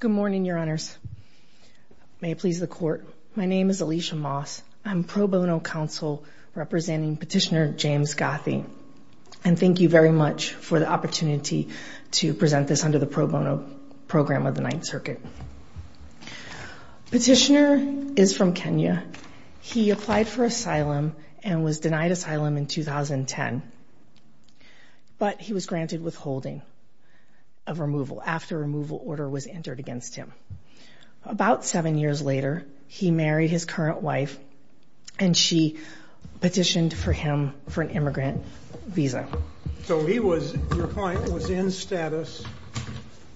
Good morning, Your Honors. May it please the Court. My name is Alicia Moss. I'm pro bono counsel representing Petitioner James Gathii, and thank you very much for the opportunity to present this under the pro bono program of the Ninth Circuit. Petitioner is from Kenya. He applied for asylum and was denied asylum in 2010, but he was granted withholding of removal after removal order was entered against him. About seven years later, he married his current wife, and she petitioned for him for an immigrant visa. So he was, your client, was in status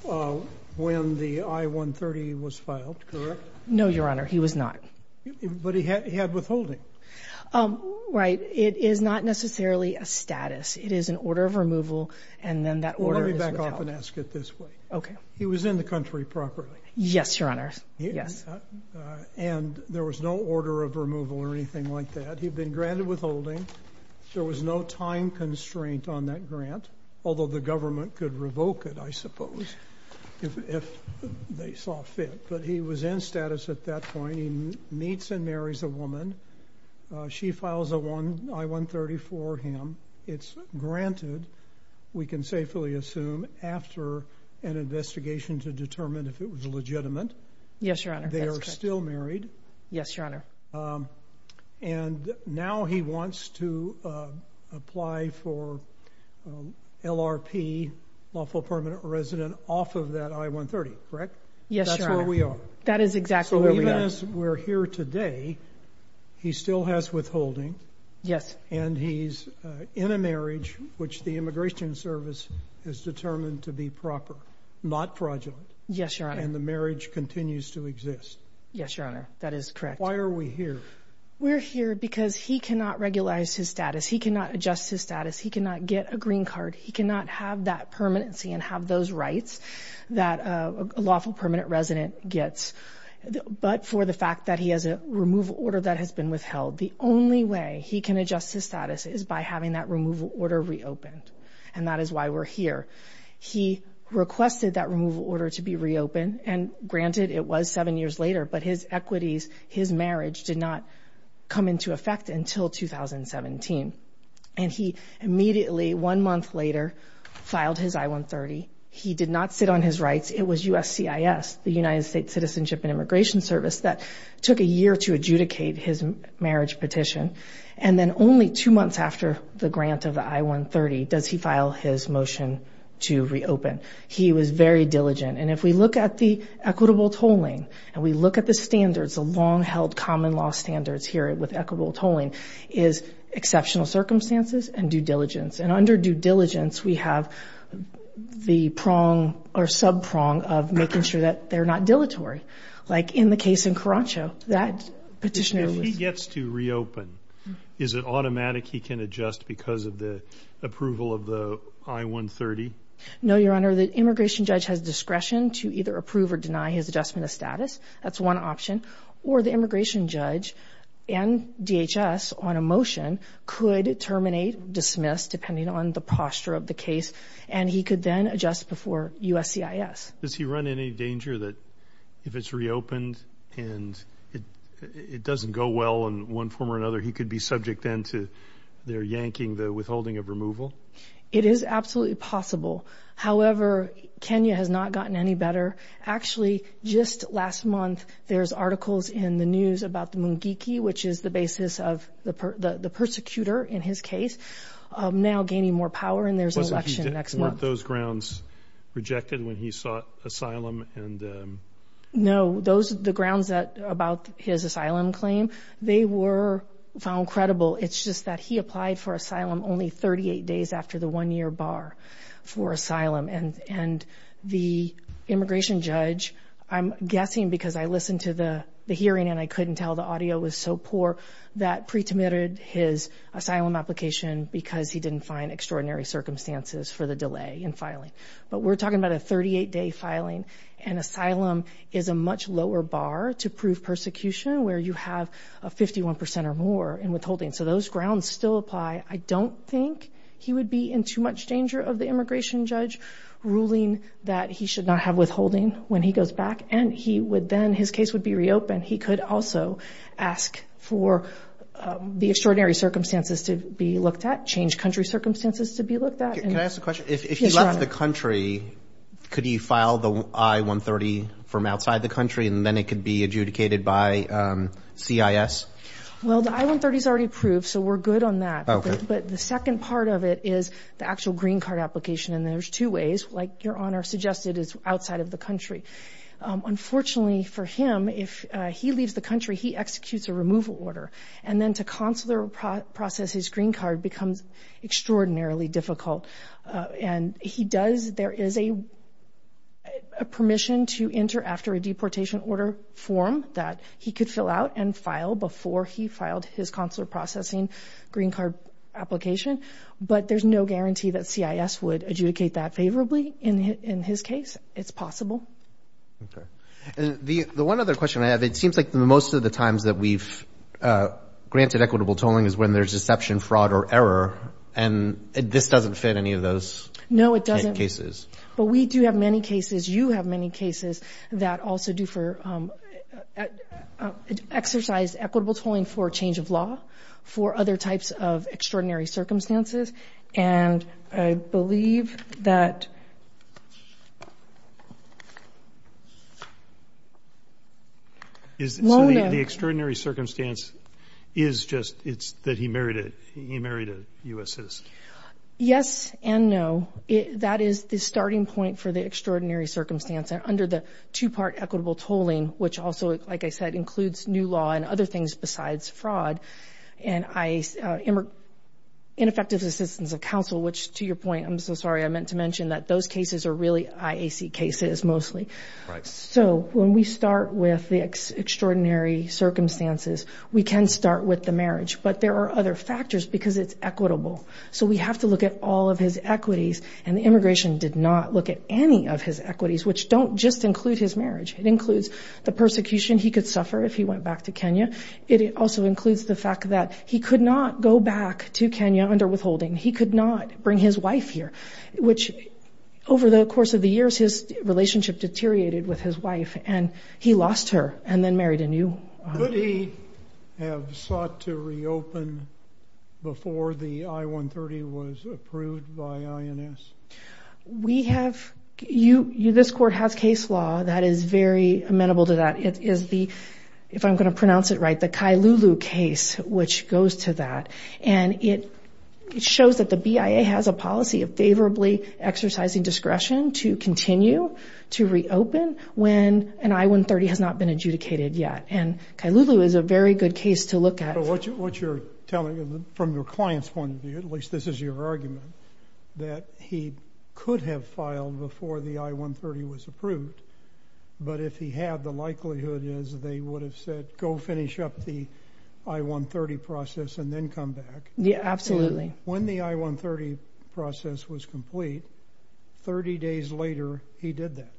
when the I-130 was filed, correct? No, Your Honor, he was not. But he had withholding. Right. It is not necessarily a status. It is an order of removal, and then that order is withheld. Let me back off and ask it this way. Okay. He was in the country properly. Yes, Your Honor. Yes. And there was no order of removal or anything like that. He'd been granted withholding. There was no time constraint on that grant, although the government could revoke it, I suppose, if they saw fit. But he was in status at that point. He meets and marries a woman. She files a I-130 for him. It's granted, we can safely assume, after an investigation to determine if it was legitimate. Yes, Your Honor, that's correct. They are still married. Yes, Your Honor. And now he wants to apply for LRP, lawful permanent resident, off of that I-130, correct? Yes, Your Honor. That's where we are. That is exactly where we are. So even as we're here today, he still has withholding. Yes. And he's in a marriage, which the Immigration Service is determined to be proper, not fraudulent. Yes, Your Honor. And the marriage continues to exist. Yes, Your Honor, that is correct. Why are we here? We're here because he cannot regulate his status. He cannot adjust his status. He cannot get a green card. He cannot have that permanency and have those rights that a lawful permanent resident gets. But for the fact that he has a removal order that has been withheld, the only way he can adjust his status is by having that removal order reopened. And that is why we're here. He requested that removal order to be reopened. And granted, it was seven years later, but his equities, his marriage did not come into effect until 2017. And he immediately, one month later, filed his I-130. He did not sit on his rights. It was USCIS, the United States Citizenship and Immigration Service, that took a year to adjudicate his marriage petition. And then only two months after the grant of the I-130 does he file his motion to reopen. He was very diligent. And if we look at the equitable tolling and we look at the long-held common law standards here with equitable tolling, is exceptional circumstances and due diligence. And under due diligence, we have the prong or sub-prong of making sure that they're not dilatory. Like in the case in Karancho, that petitioner was- If he gets to reopen, is it automatic he can adjust because of the approval of the I-130? No, Your Honor. The immigration judge has discretion to either approve or deny his status. That's one option. Or the immigration judge and DHS on a motion could terminate, dismiss, depending on the posture of the case. And he could then adjust before USCIS. Does he run any danger that if it's reopened and it doesn't go well in one form or another, he could be subject then to their yanking, the withholding of removal? It is absolutely possible. However, Kenya has not gotten any better. Actually, just last month, there's articles in the news about the Mungiki, which is the basis of the persecutor in his case, now gaining more power. And there's an election next month. Weren't those grounds rejected when he sought asylum? No. The grounds about his asylum claim, they were found credible. It's just that he applied for asylum only 38 days after the one-year bar for asylum. And the immigration judge, I'm guessing because I listened to the hearing and I couldn't tell, the audio was so poor that pre-terminated his asylum application because he didn't find extraordinary circumstances for the delay in filing. But we're talking about a 38-day filing. And asylum is a much lower bar to prove where you have a 51% or more in withholding. So those grounds still apply. I don't think he would be in too much danger of the immigration judge ruling that he should not have withholding when he goes back. And he would then, his case would be reopened. He could also ask for the extraordinary circumstances to be looked at, change country circumstances to be looked at. Can I ask a question? If he left the country, could he file the I-130 from outside the country, and then it could be adjudicated by CIS? Well, the I-130 is already approved, so we're good on that. But the second part of it is the actual green card application. And there's two ways, like Your Honor suggested, is outside of the country. Unfortunately for him, if he leaves the country, he executes a removal order. And then to consular process his green card becomes extraordinarily difficult. And he does, there is a permission to enter after a deportation order form that he could fill out and file before he filed his consular processing green card application. But there's no guarantee that CIS would adjudicate that favorably in his case. It's possible. Okay. And the one other question I have, it seems like most of the times that we've equitable tolling is when there's deception, fraud, or error. And this doesn't fit any of those cases. No, it doesn't. But we do have many cases, you have many cases that also do for exercise equitable tolling for change of law, for other types of extraordinary circumstances. And I believe that is the extraordinary circumstance is just, it's that he married a U.S. citizen. Yes and no. That is the starting point for the extraordinary circumstance. And under the two-part equitable tolling, which also, like I said, includes new law and other things besides fraud, and ineffective assistance of counsel, which to your point, I'm so sorry, I meant to mention that those cases mostly. So when we start with the extraordinary circumstances, we can start with the marriage. But there are other factors because it's equitable. So we have to look at all of his equities. And the immigration did not look at any of his equities, which don't just include his marriage. It includes the persecution he could suffer if he went back to Kenya. It also includes the fact that he could not go back to Kenya under withholding. He could not his wife here, which over the course of the years, his relationship deteriorated with his wife, and he lost her and then married a new... Could he have sought to reopen before the I-130 was approved by INS? We have, this court has case law that is very amenable to that. It is the, if I'm going to pronounce it right, the Kailulu case, which goes to that. And it shows that the policy of favorably exercising discretion to continue to reopen when an I-130 has not been adjudicated yet. And Kailulu is a very good case to look at. But what you're telling from your client's point of view, at least this is your argument, that he could have filed before the I-130 was approved. But if he had, the likelihood is they would have said, go finish up the I-130 process and then come back. Yeah, absolutely. When the I-130 process was complete, 30 days later, he did that.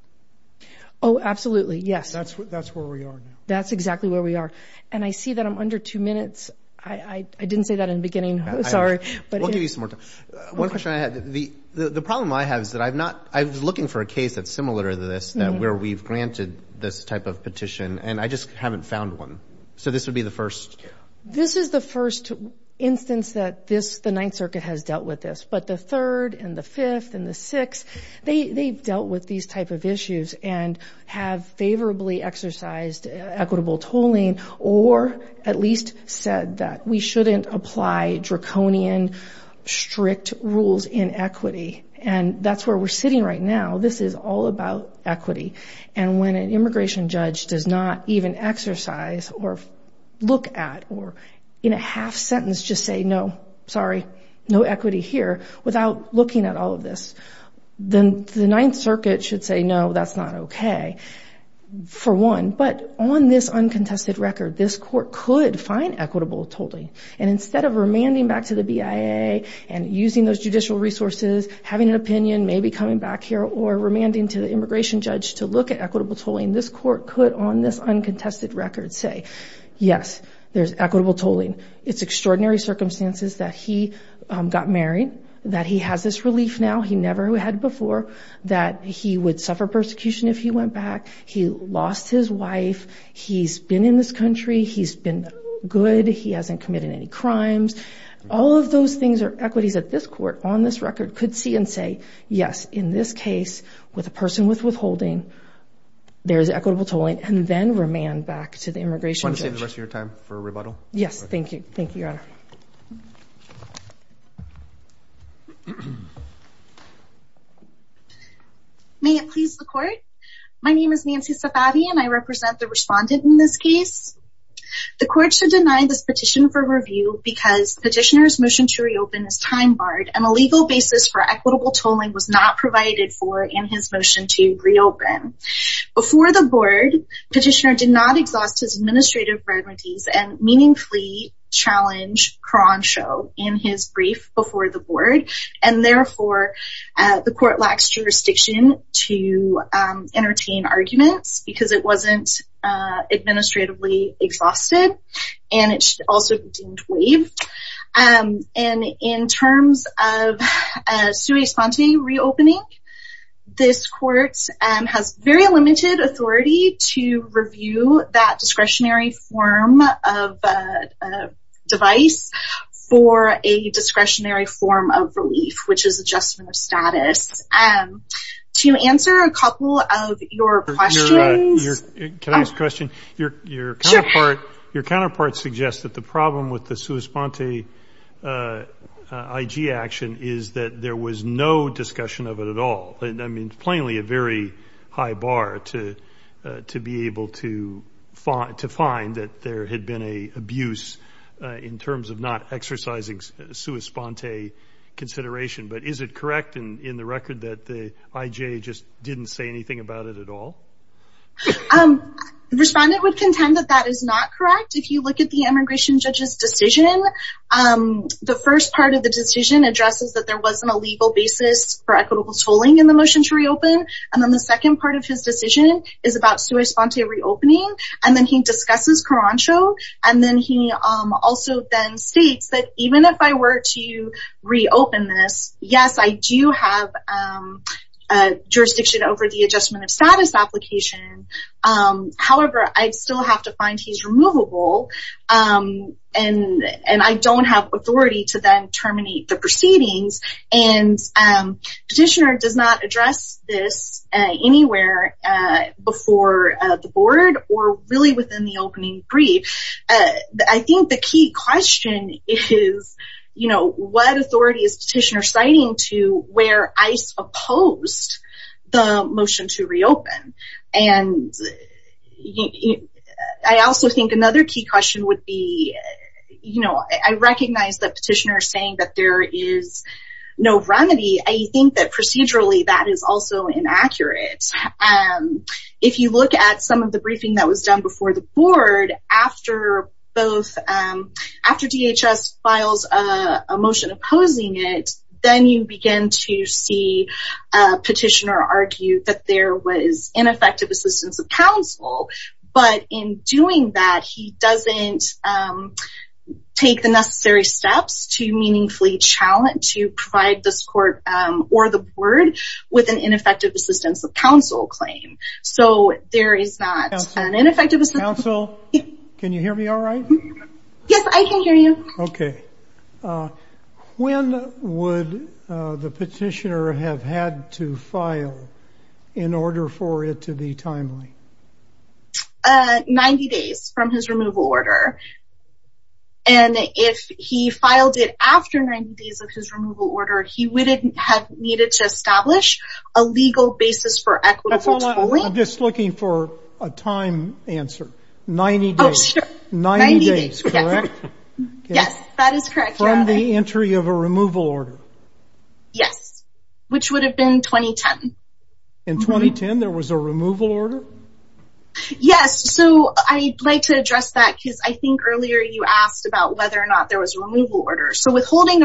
Oh, absolutely. Yes. That's where we are now. That's exactly where we are. And I see that I'm under two minutes. I didn't say that in the beginning. Sorry. We'll give you some more time. One question I had, the problem I have is that I've not, I was looking for a case that's similar to this, where we've granted this type of petition, and I just haven't found one. So this would be the first? This is the first instance that this, the Ninth Circuit has dealt with this. But the third and the fifth and the sixth, they've dealt with these type of issues and have favorably exercised equitable tolling, or at least said that we shouldn't apply draconian, strict rules in equity. And that's where we're sitting right now. This is all about equity. And when an immigration judge does not even exercise or look at, or in a half sentence, just say, no, sorry, no equity here, without looking at all of this, then the Ninth Circuit should say, no, that's not okay, for one. But on this uncontested record, this court could find equitable tolling. And instead of remanding back to the BIA and using those judicial resources, having an opinion, maybe coming back here, or remanding to the immigration judge to look at equitable tolling, this court could, on this uncontested record, say, yes, there's equitable tolling. It's extraordinary circumstances that he got married, that he has this relief now he never had before, that he would suffer persecution if he went back. He lost his wife. He's been in this country. He's been good. He hasn't committed any crimes. All of those things are equities that this court, on this record, could see and say, yes, in this case, with a person with withholding, there's equitable tolling, and then remand back to the immigration judge. Want to save the rest of your time for a rebuttal? Yes. Thank you. Thank you, Your Honor. May it please the court? My name is Nancy Safavi, and I represent the respondent in this case. The court should deny this petition for review because the petitioner's motion to reopen is time-barred, and a legal basis for equitable tolling was not provided for in his motion to reopen. Before the board, the petitioner did not exhaust his administrative remedies and meaningfully challenge Crenshaw in his brief before the board. Therefore, the court lacks jurisdiction to entertain arguments because it wasn't administratively exhausted, and it should not be. In terms of sui sponte reopening, this court has very limited authority to review that discretionary form of device for a discretionary form of relief, which is adjustment of status. To answer a couple of your questions... Can I ask a question? Your counterpart suggests that the problem with the sui sponte IG action is that there was no discussion of it at all. Plainly, a very high bar to be able to find that there had been an abuse in terms of not exercising sui sponte consideration, but is it correct in the record that the IG just didn't say anything about it at all? The respondent would contend that that is not correct. If you look at the immigration judge's decision, the first part of the decision addresses that there wasn't a legal basis for equitable tolling in the motion to reopen, and then the second part of his decision is about sui sponte reopening, and then he discusses Crenshaw, and then he also then states that even if I were to reopen this, yes, I do have jurisdiction over the adjustment of status application. However, I still have to find he's removable, and I don't have authority to then terminate the proceedings, and petitioner does not address this anywhere before the board or really within the opening brief. I think the key question is, you know, what authority is And I also think another key question would be, you know, I recognize the petitioner saying that there is no remedy. I think that procedurally that is also inaccurate. If you look at some of the briefing that was done before the board, after DHS files a motion opposing it, then you begin to see a petitioner argue that there was ineffective assistance of counsel, but in doing that, he doesn't take the necessary steps to meaningfully challenge to provide this court or the board with an ineffective assistance of counsel claim. So there is not an ineffective counsel. Can you hear me all right? Yes, I can hear you. Okay. When would the petitioner have had to file in order for it to be timely? 90 days from his removal order. And if he filed it after 90 days of his removal order, he wouldn't have needed to establish a legal basis for equity. I'm just looking for a time answer. 90 days. Yes, that is correct. From the entry of a removal order. Yes. Which would have been 2010. In 2010, there was a removal order? Yes. So I'd like to address that because I think earlier you asked about whether or not there was a removal order. So technically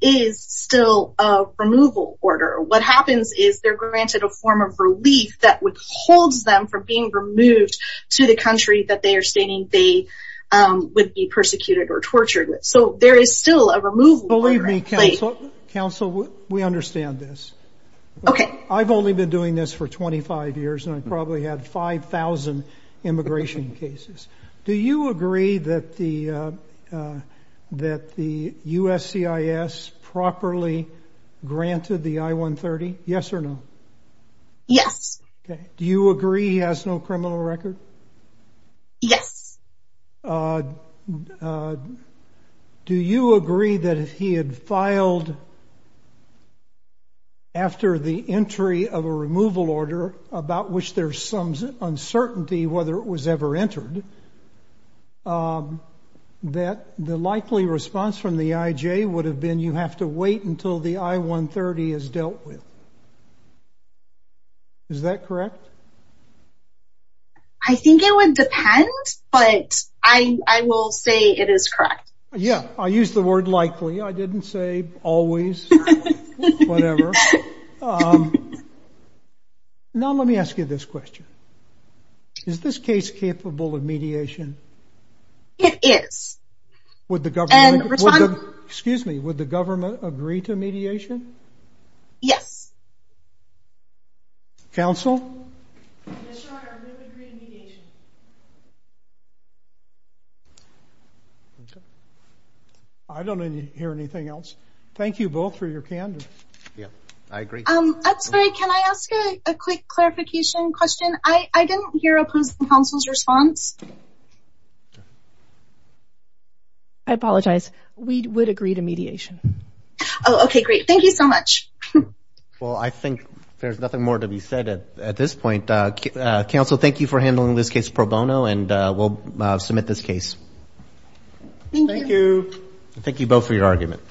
there is still a removal order. What happens is they're granted a form of relief that withholds them from being removed to the country that they are stating they would be persecuted or tortured. So there is still a removal order. Believe me, counsel, we understand this. Okay. I've only been doing this for 25 years and I've probably had 5,000 immigration cases. Do you agree that the USCIS properly granted the I-130? Yes or no? Yes. Do you agree he has no criminal record? Yes. Do you agree that if he had filed after the entry of a removal order about which there's some uncertainty whether it was ever entered, that the likely response from the IJ would have been you have to wait until the I-130 is dealt with? Is that correct? I think it would depend, but I will say it is correct. Yes. I used the word likely. I didn't say always, whatever. Now let me ask you this question. Is this case capable of mediation? It is. Excuse me, would the government agree to mediation? Yes. Counsel? Yes, sir, I would agree to mediation. I don't hear anything else. Thank you both for your candor. I agree. Can I ask a quick clarification question? I didn't hear opposing counsel's response. I apologize. We would agree to mediation. Okay, great. Thank you so much. Well, I think there's nothing more to be said at this point. Counsel, thank you for handling this case pro bono and we'll submit this case. Thank you. Thank you both for your argument.